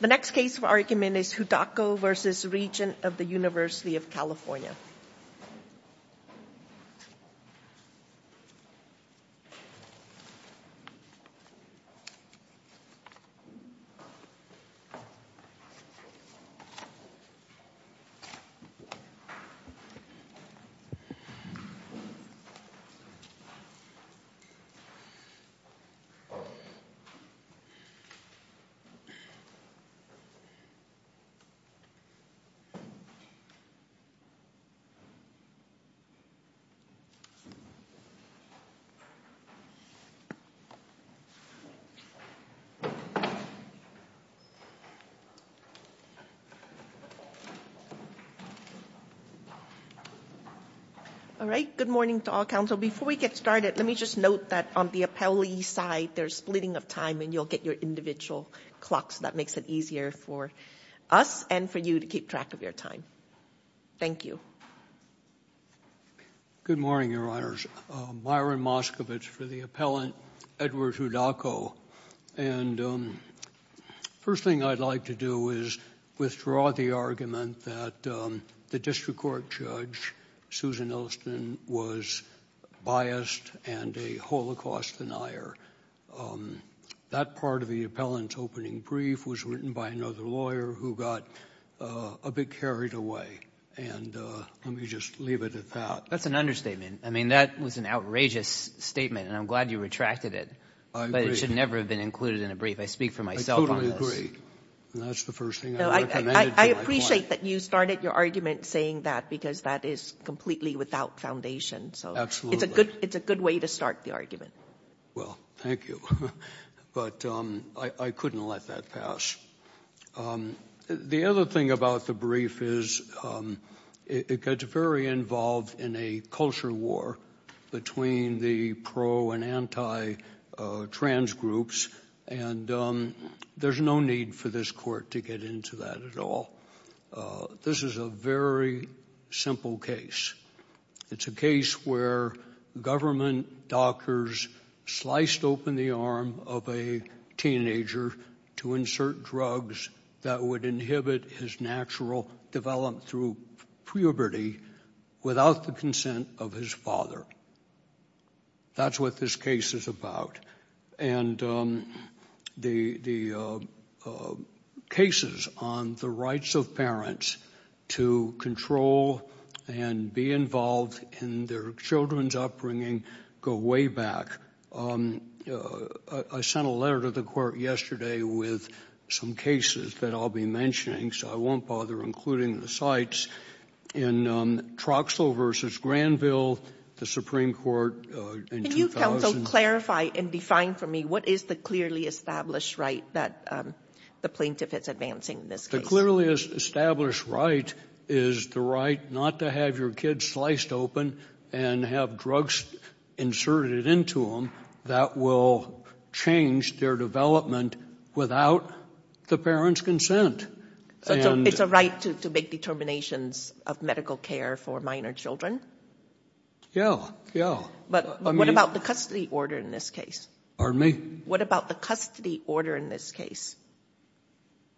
The next case for argument is Hudacko v. Regents of the University of California. Hudacko v. Regents of the University of California Good morning to all counsel. Before we get started, let me just note that on the appellee side, there's splitting of time and you'll get your individual clocks. That makes it easier for us and for you to keep track of your time. Thank you. Good morning, Your Honors. Myron Moskovitz for the appellant, Edward Hudacko. And first thing I'd like to do is withdraw the argument that the district court judge, Susan Ilston, was biased and a Holocaust denier. That part of the appellant's opening brief was written by another lawyer who got a bit carried away. And let me just leave it at that. That's an understatement. I mean, that was an outrageous statement, and I'm glad you retracted it. I agree. But it should never have been included in a brief. I speak for myself on this. I totally agree. And that's the first thing I recommended to my client. No, I appreciate that you started your argument saying that because that is completely without foundation. Absolutely. So it's a good way to start the argument. Well, thank you. But I couldn't let that pass. The other thing about the brief is it gets very involved in a culture war between the pro and anti-trans groups, and there's no need for this court to get into that at all. This is a very simple case. It's a case where government doctors sliced open the arm of a teenager to insert drugs that would inhibit his natural development through puberty without the consent of his father. That's what this case is about. And the cases on the rights of parents to control and be involved in their children's upbringing go way back. I sent a letter to the court yesterday with some cases that I'll be mentioning, so I won't bother including the sites. In Troxel v. Granville, the Supreme Court in 2000— Can you counsel clarify and define for me what is the clearly established right that the plaintiff is advancing in this case? The clearly established right is the right not to have your kids sliced open and have drugs inserted into them that will change their development without the parent's consent. So it's a right to make determinations of medical care for minor children? Yeah, yeah. But what about the custody order in this case? Pardon me? What about the custody order in this case?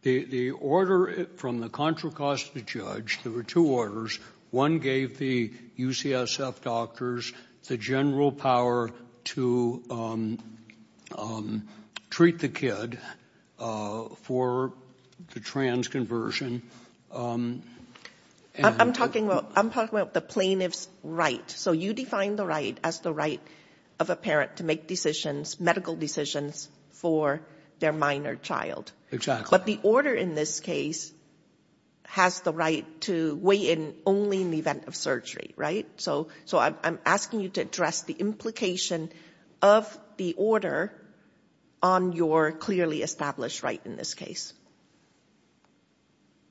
The order from the Contra Costa judge—there were two orders. One gave the UCSF doctors the general power to treat the kid for the trans conversion. I'm talking about the plaintiff's right. So you define the right as the right of a parent to make decisions, medical decisions, for their minor child. Exactly. But the order in this case has the right to weigh in only in the event of surgery, right? So I'm asking you to address the implication of the order on your clearly established right in this case.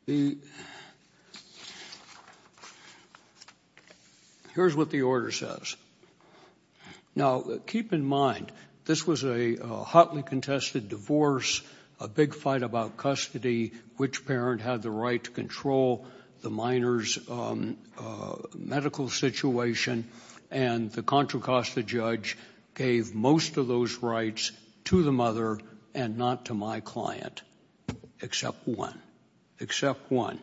Here's what the order says. Now, keep in mind, this was a hotly contested divorce, a big fight about custody, which parent had the right to control the minor's medical situation, and the Contra Costa judge gave most of those rights to the mother and not to my client, except one. Except one.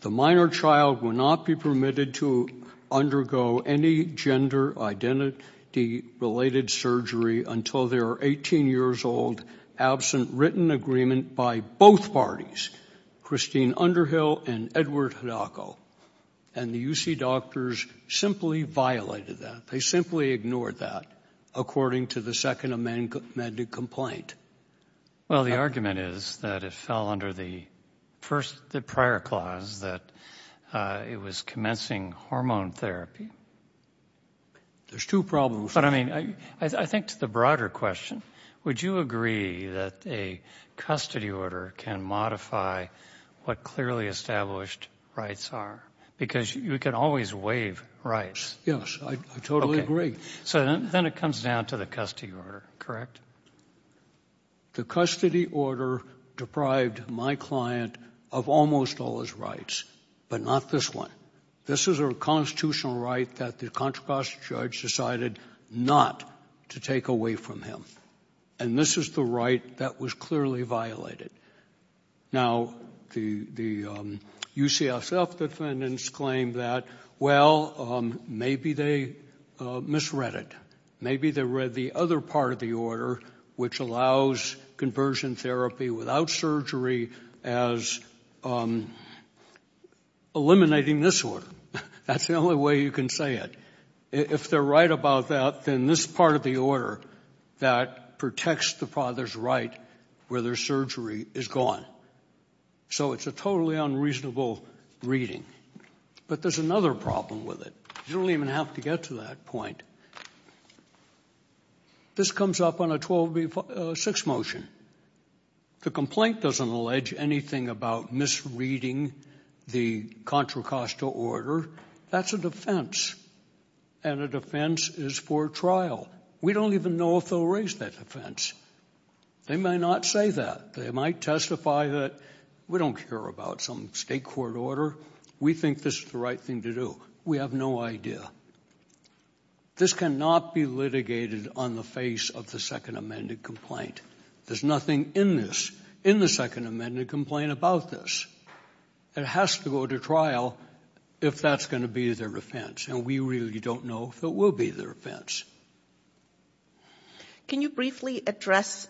The minor child will not be permitted to undergo any gender identity-related surgery until they are 18 years old, absent written agreement by both parties, Christine Underhill and Edward Hidalko. And the UC doctors simply violated that. They simply ignored that, according to the Second Amendment complaint. Well, the argument is that it fell under the prior clause that it was commencing hormone therapy. There's two problems. But, I mean, I think to the broader question, would you agree that a custody order can modify what clearly established rights are? Because you can always waive rights. Yes, I totally agree. So then it comes down to the custody order, correct? The custody order deprived my client of almost all his rights, but not this one. This is a constitutional right that the Contra Costa judge decided not to take away from him. And this is the right that was clearly violated. Now, the UCSF defendants claim that, well, maybe they misread it. Maybe they read the other part of the order, which allows conversion therapy without surgery, as eliminating this order. That's the only way you can say it. If they're right about that, then this part of the order that protects the father's right where there's surgery is gone. So it's a totally unreasonable reading. But there's another problem with it. You don't even have to get to that point. This comes up on a 12B6 motion. The complaint doesn't allege anything about misreading the Contra Costa order. That's a defense, and a defense is for trial. We don't even know if they'll raise that defense. They might not say that. They might testify that we don't care about some state court order. We think this is the right thing to do. We have no idea. This cannot be litigated on the face of the Second Amendment complaint. There's nothing in this, in the Second Amendment complaint, about this. It has to go to trial if that's going to be their defense, and we really don't know if it will be their defense. Can you briefly address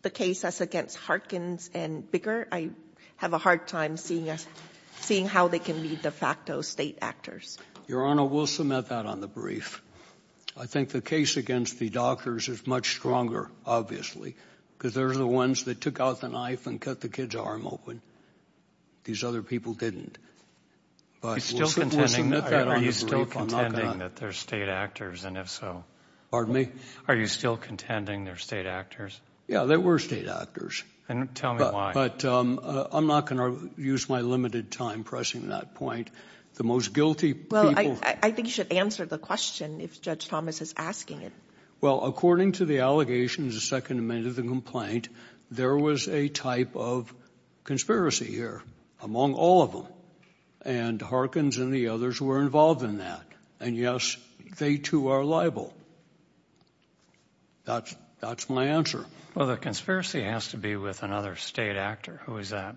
the cases against Harkins and Bigger? I have a hard time seeing how they can be de facto state actors. Your Honor, we'll submit that on the brief. I think the case against the doctors is much stronger, obviously, because they're the ones that took out the knife and cut the kid's arm open. These other people didn't. But we'll submit that on the brief. Are you still contending that they're state actors, and if so— Pardon me? Are you still contending they're state actors? Yeah, they were state actors. And tell me why. But I'm not going to use my limited time pressing that point. The most guilty people— Well, I think you should answer the question if Judge Thomas is asking it. Well, according to the allegations of the Second Amendment of the complaint, there was a type of conspiracy here among all of them, and Harkins and the others were involved in that. And, yes, they too are liable. That's my answer. Well, the conspiracy has to be with another state actor. Who is that?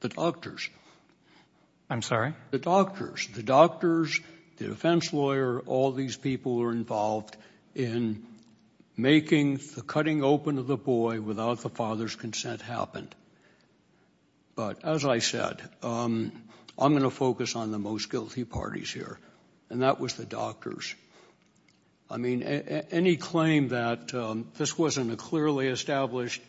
The doctors. I'm sorry? The doctors. The doctors, the defense lawyer, all these people were involved in making the cutting open of the boy without the father's consent happen. But, as I said, I'm going to focus on the most guilty parties here, and that was the doctors. I mean, any claim that this wasn't a clearly established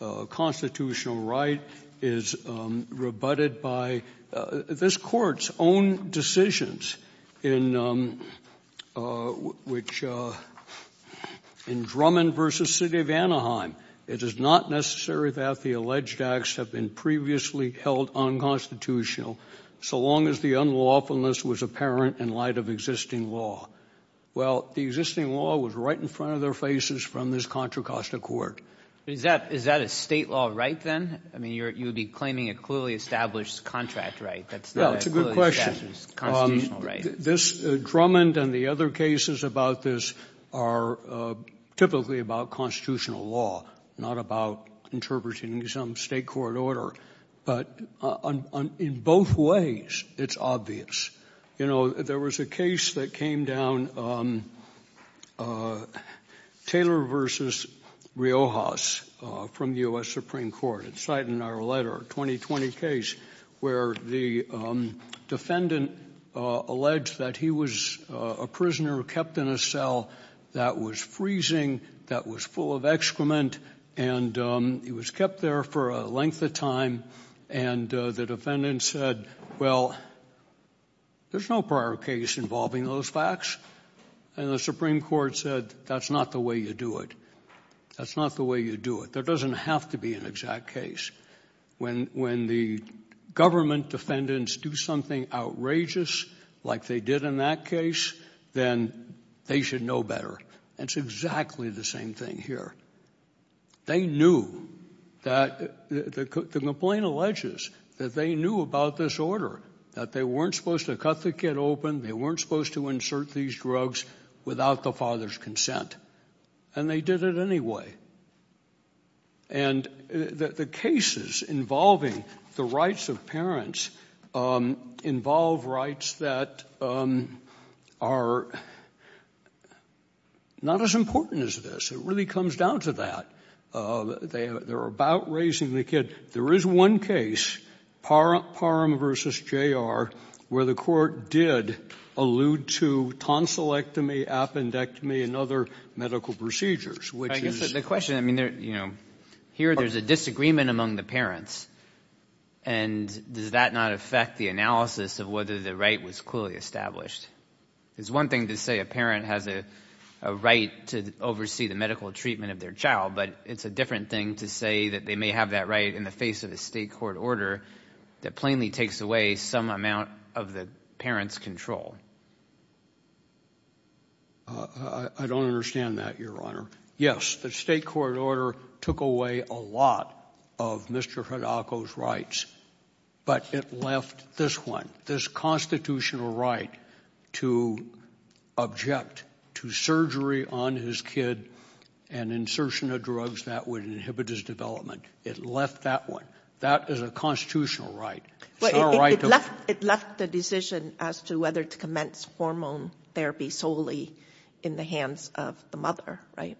constitutional right is rebutted by— This Court's own decisions in Drummond v. City of Anaheim, it is not necessary that the alleged acts have been previously held unconstitutional so long as the unlawfulness was apparent in light of existing law. Well, the existing law was right in front of their faces from this Contra Costa Court. Is that a State law right then? I mean, you would be claiming a clearly established contract right. That's not a clearly established constitutional right. Drummond and the other cases about this are typically about constitutional law, not about interpreting some State court order. But in both ways, it's obvious. You know, there was a case that came down, Taylor v. Riojas, from U.S. Supreme Court. It's cited in our letter, 2020 case, where the defendant alleged that he was a prisoner kept in a cell that was freezing, that was full of excrement, and he was kept there for a length of time. And the defendant said, well, there's no prior case involving those facts. And the Supreme Court said, that's not the way you do it. That's not the way you do it. There doesn't have to be an exact case. When the government defendants do something outrageous like they did in that case, then they should know better. It's exactly the same thing here. They knew that the complaint alleges that they knew about this order, that they weren't supposed to cut the kid open, they weren't supposed to insert these drugs without the father's consent. And they did it anyway. And the cases involving the rights of parents involve rights that are not as important as this. It really comes down to that. They're about raising the kid. There is one case, Parham v. J.R., where the court did allude to tonsillectomy, appendectomy, and other medical procedures. I guess the question, I mean, here there's a disagreement among the parents. And does that not affect the analysis of whether the right was clearly established? It's one thing to say a parent has a right to oversee the medical treatment of their child, but it's a different thing to say that they may have that right in the face of a state court order that plainly takes away some amount of the parent's control. I don't understand that, Your Honor. Yes, the state court order took away a lot of Mr. Hidako's rights, but it left this one, this constitutional right to object to surgery on his kid and insertion of drugs that would inhibit his development. It left that one. That is a constitutional right. It's not a right to ---- It left the decision as to whether to commence hormone therapy solely in the hands of the mother, right?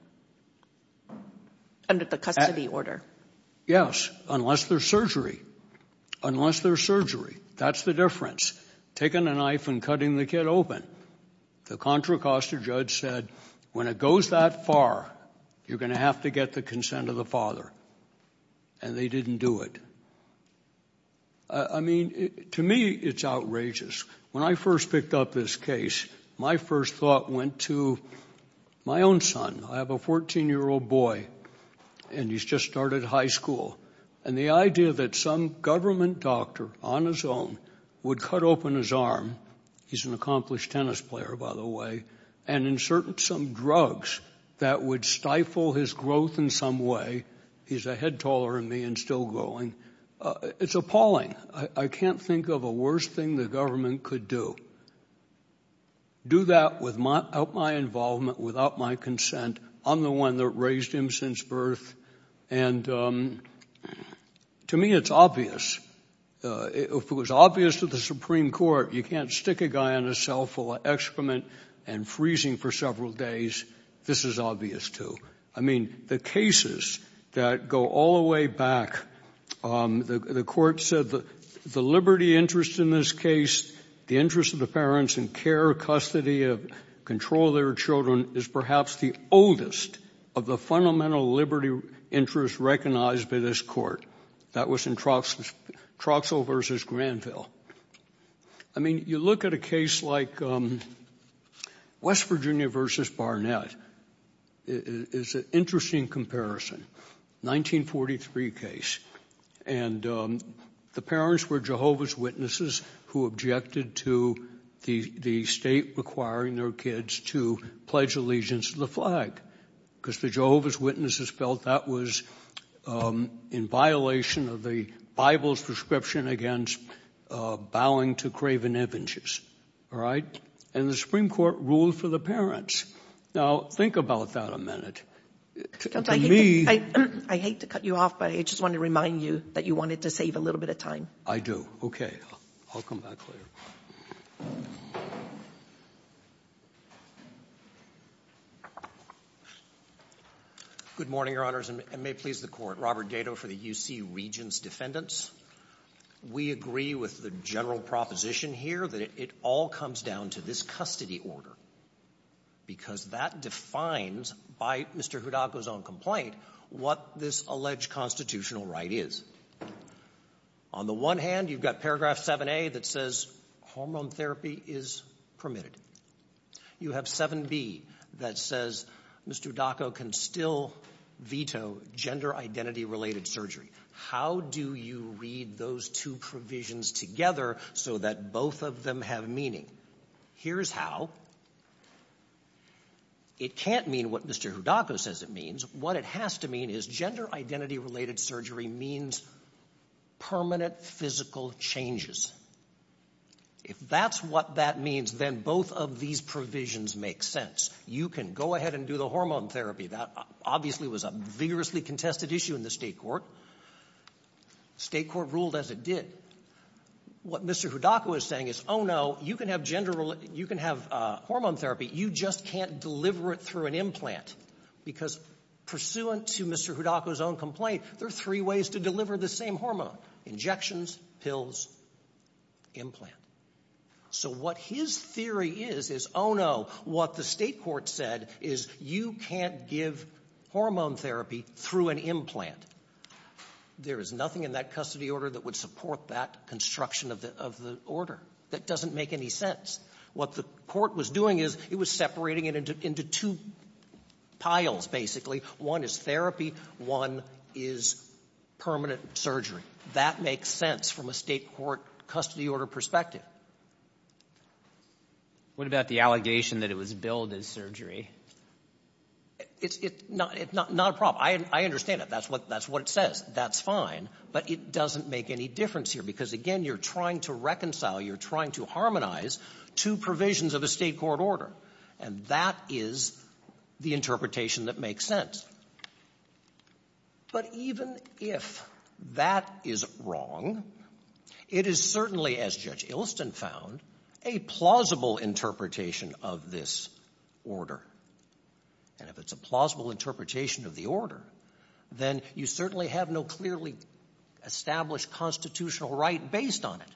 Under the custody order. Yes, unless there's surgery. Unless there's surgery. That's the difference. Taking a knife and cutting the kid open. The Contra Costa judge said, when it goes that far, you're going to have to get the consent of the father. And they didn't do it. I mean, to me, it's outrageous. When I first picked up this case, my first thought went to my own son. I have a 14-year-old boy, and he's just started high school. And the idea that some government doctor on his own would cut open his arm, he's an accomplished tennis player, by the way, and insert some drugs that would stifle his growth in some way, he's a head taller than me and still growing, it's appalling. I can't think of a worse thing the government could do. Do that without my involvement, without my consent. I'm the one that raised him since birth. And to me it's obvious. If it was obvious to the Supreme Court you can't stick a guy in a cell full of excrement and freezing for several days, this is obvious too. I mean, the cases that go all the way back, the court said the liberty interest in this case, the interest of the parents in care, custody, control of their children, is perhaps the oldest of the fundamental liberty interests recognized by this court. That was in Troxell v. Granville. I mean, you look at a case like West Virginia v. Barnett. It's an interesting comparison, 1943 case. And the parents were Jehovah's Witnesses who objected to the state requiring their kids to pledge allegiance to the flag, because the Jehovah's Witnesses felt that was in violation of the Bible's prescription against bowing to craven avengers. All right? And the Supreme Court ruled for the parents. Now, think about that a minute. I hate to cut you off, but I just want to remind you that you wanted to save a little bit of time. I do. I'll come back later. Good morning, Your Honors, and may it please the Court. Robert Dado for the U.C. Regents Defendants. We agree with the general proposition here that it all comes down to this custody because that defines, by Mr. Hudako's own complaint, what this alleged constitutional right is. On the one hand, you've got paragraph 7a that says hormone therapy is permitted. You have 7b that says Mr. Hudako can still veto gender identity-related surgery. How do you read those two provisions together so that both of them have meaning? Here's how. It can't mean what Mr. Hudako says it means. What it has to mean is gender identity-related surgery means permanent physical changes. If that's what that means, then both of these provisions make sense. You can go ahead and do the hormone therapy. That obviously was a vigorously contested issue in the state court. The state court ruled as it did. What Mr. Hudako is saying is, oh, no, you can have hormone therapy, you just can't deliver it through an implant because, pursuant to Mr. Hudako's own complaint, there are three ways to deliver the same hormone. Injections, pills, implant. So what his theory is is, oh, no, what the state court said is you can't give hormone therapy through an implant. There is nothing in that custody order that would support that construction of the order. That doesn't make any sense. What the court was doing is it was separating it into two piles, basically. One is therapy, one is permanent surgery. That makes sense from a state court custody order perspective. What about the allegation that it was billed as surgery? It's not a problem. I understand it. That's what it says. That's fine. But it doesn't make any difference here because, again, you're trying to reconcile, you're trying to harmonize two provisions of a state court order, and that is the interpretation that makes sense. But even if that is wrong, it is certainly, as Judge Ilston found, a plausible interpretation of this order. And if it's a plausible interpretation of the order, then you certainly have no clearly established constitutional right based on it.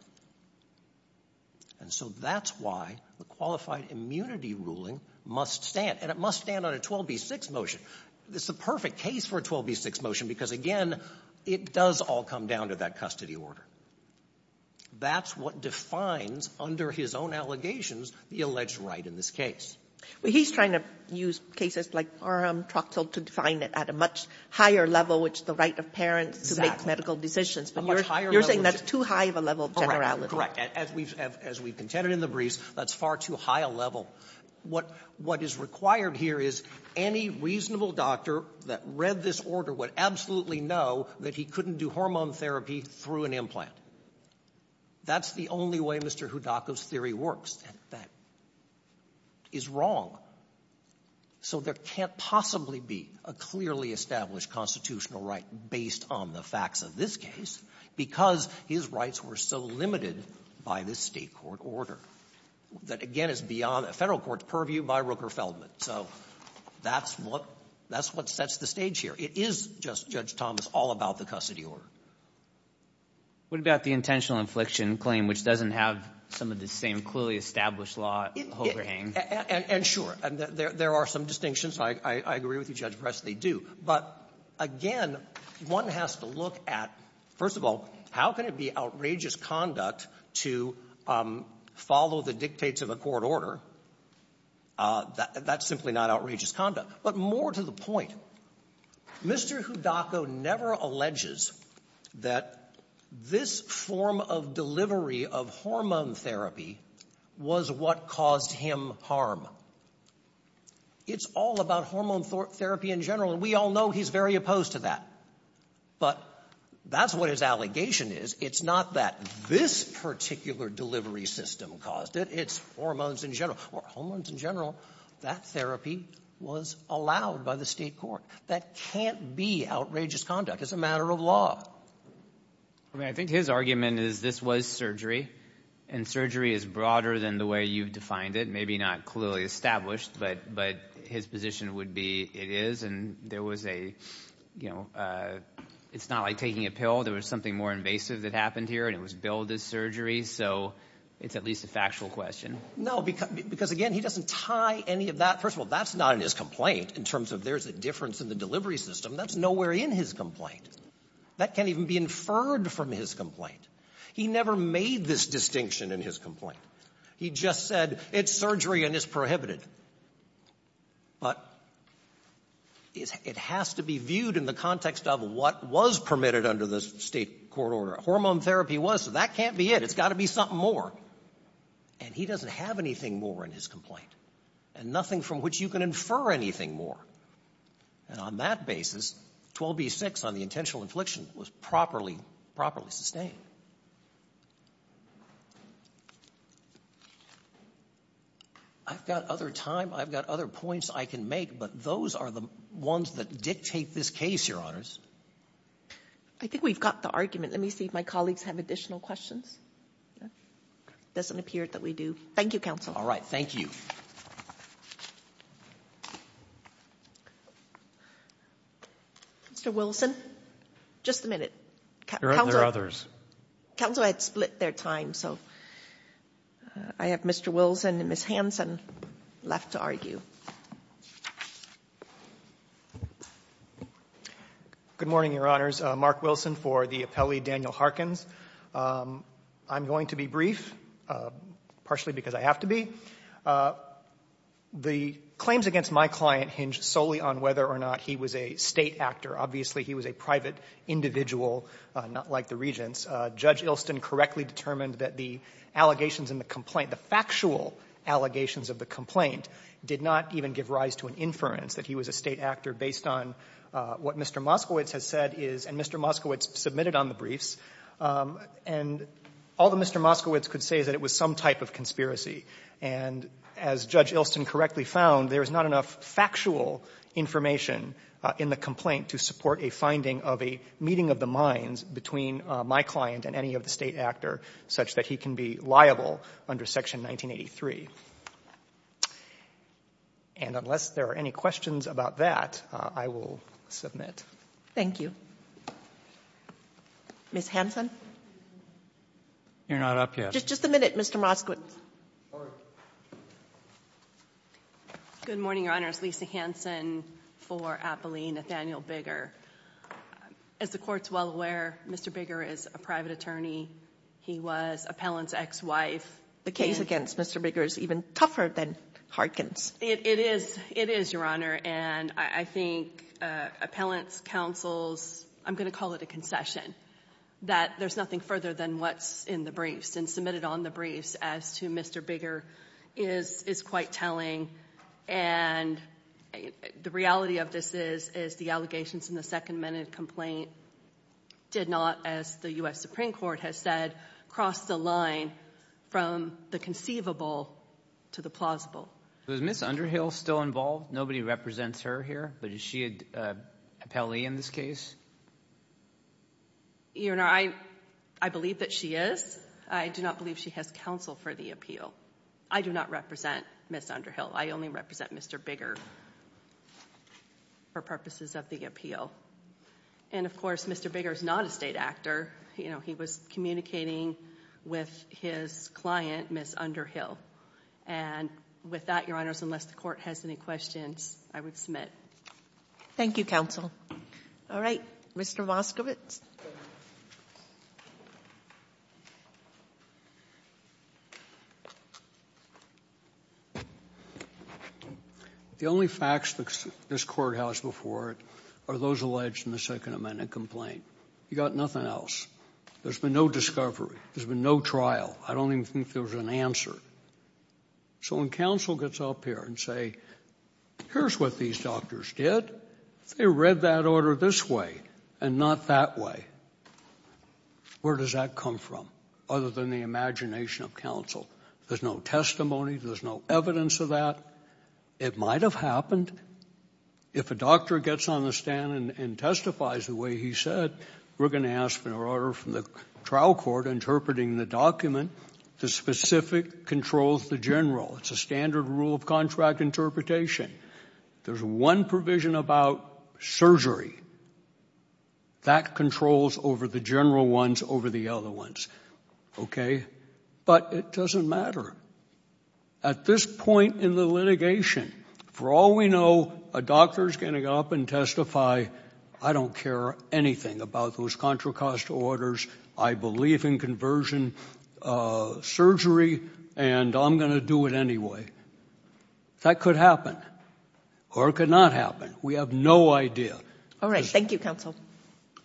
And so that's why the qualified immunity ruling must stand, and it must stand on a 12b-6 motion. It's the perfect case for a 12b-6 motion because, again, it does all come down to that custody order. That's what defines, under his own allegations, the alleged right in this case. Well, he's trying to use cases like Parham-Troxell to define it at a much higher level, which is the right of parents to make medical decisions. But you're saying that's too high of a level of generality. Correct. As we've contended in the briefs, that's far too high a level. What is required here is any reasonable doctor that read this order would absolutely know that he couldn't do hormone therapy through an implant. That's the only way Mr. Thomas is wrong. So there can't possibly be a clearly established constitutional right based on the facts of this case because his rights were so limited by this State court order. That, again, is beyond the Federal court's purview by Rooker-Feldman. So that's what sets the stage here. It is just, Judge Thomas, all about the custody order. What about the intentional infliction claim, which doesn't have some of the same clearly established law overhang? And sure. There are some distinctions. I agree with you, Judge Press. They do. But, again, one has to look at, first of all, how can it be outrageous conduct to follow the dictates of a court order? That's simply not outrageous conduct. But more to the point, Mr. Hudako never alleges that this form of delivery of hormone therapy was what caused him harm. It's all about hormone therapy in general, and we all know he's very opposed to that. But that's what his allegation is. It's not that this particular delivery system caused it. It's hormones in general. Or hormones in general. That therapy was allowed by the state court. That can't be outrageous conduct. It's a matter of law. I think his argument is this was surgery, and surgery is broader than the way you've defined it. Maybe not clearly established, but his position would be it is. And there was a, you know, it's not like taking a pill. There was something more invasive that happened here, and it was billed as surgery. So it's at least a factual question. No, because, again, he doesn't tie any of that. First of all, that's not in his complaint in terms of there's a difference in the delivery system. That's nowhere in his complaint. That can't even be inferred from his complaint. He never made this distinction in his complaint. He just said it's surgery and it's prohibited. But it has to be viewed in the context of what was permitted under the state court order. Hormone therapy was, so that can't be it. It's got to be something more. And he doesn't have anything more in his complaint, and nothing from which you can infer anything more. And on that basis, 12b-6 on the intentional infliction was properly, properly sustained. I've got other time. I've got other points I can make, but those are the ones that dictate this case, Your Honors. I think we've got the argument. Let me see if my colleagues have additional questions. It doesn't appear that we do. Thank you, counsel. All right. Thank you. Mr. Wilson, just a minute. There are others. Counsel had split their time, so I have Mr. Wilson and Ms. Hanson left to argue. Good morning, Your Honors. Mark Wilson for the appellee, Daniel Harkins. I'm going to be brief, partially because I have to be. The claims against my client hinge solely on whether or not he was a State actor. Obviously, he was a private individual, not like the Regents. Judge Ilston correctly determined that the allegations in the complaint, the factual allegations of the complaint, did not even give rise to an inference that he was a State actor based on what Mr. Moskowitz has said is, and Mr. Moskowitz submitted on the briefs, and all that Mr. Moskowitz could say is that it was some type of conspiracy. And as Judge Ilston correctly found, there is not enough factual information in the complaint to support a finding of a meeting of the minds between my client and any of the State actor such that he can be liable under Section 1983. And unless there are any questions about that, I will submit. Thank you. Ms. Hanson? You're not up yet. Just a minute, Mr. Moskowitz. Good morning, Your Honors. Lisa Hanson for appellee, Nathaniel Bigger. As the Court's well aware, Mr. Bigger is a private attorney. He was Appellant's ex-wife. The case against Mr. Bigger is even tougher than Harkin's. It is, Your Honor. And I think Appellant's counsel's, I'm going to call it a concession, that there's nothing further than what's in the briefs and submitted on the briefs as to Mr. Bigger is quite telling. And the reality of this is the allegations in the second minute complaint did not, as the U.S. Supreme Court has said, cross the line from the conceivable to the plausible. Is Ms. Underhill still involved? Nobody represents her here, but is she an appellee in this case? Your Honor, I believe that she is. I do not believe she has counsel for the appeal. I do not represent Ms. Underhill. I only represent Mr. Bigger for purposes of the appeal. And, of course, Mr. Bigger is not a state actor. He was communicating with his client, Ms. Underhill. And with that, Your Honors, unless the Court has any questions, I would submit. Thank you, counsel. All right, Mr. Moskowitz. The only facts this Court has before it are those alleged in the second amendment complaint. You've got nothing else. There's been no discovery. There's been no trial. I don't even think there was an answer. So when counsel gets up here and say, here's what these doctors did. They read that order this way and not that way. Where does that come from other than the imagination of counsel? There's no testimony. There's no evidence of that. It might have happened. If a doctor gets on the stand and testifies the way he said, we're going to ask for an order from the trial court interpreting the document. The specific controls the general. It's a standard rule of contract interpretation. There's one provision about surgery. That controls over the general ones over the other ones. Okay? But it doesn't matter. At this point in the litigation, for all we know, a doctor is going to get up and testify, I don't care anything about those Contra Costa orders. I believe in conversion surgery, and I'm going to do it anyway. That could happen or it could not happen. We have no idea. All right. Thank you, counsel.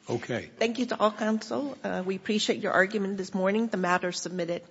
Okay. Thank you to all counsel. We appreciate your argument this morning. The matter is submitted.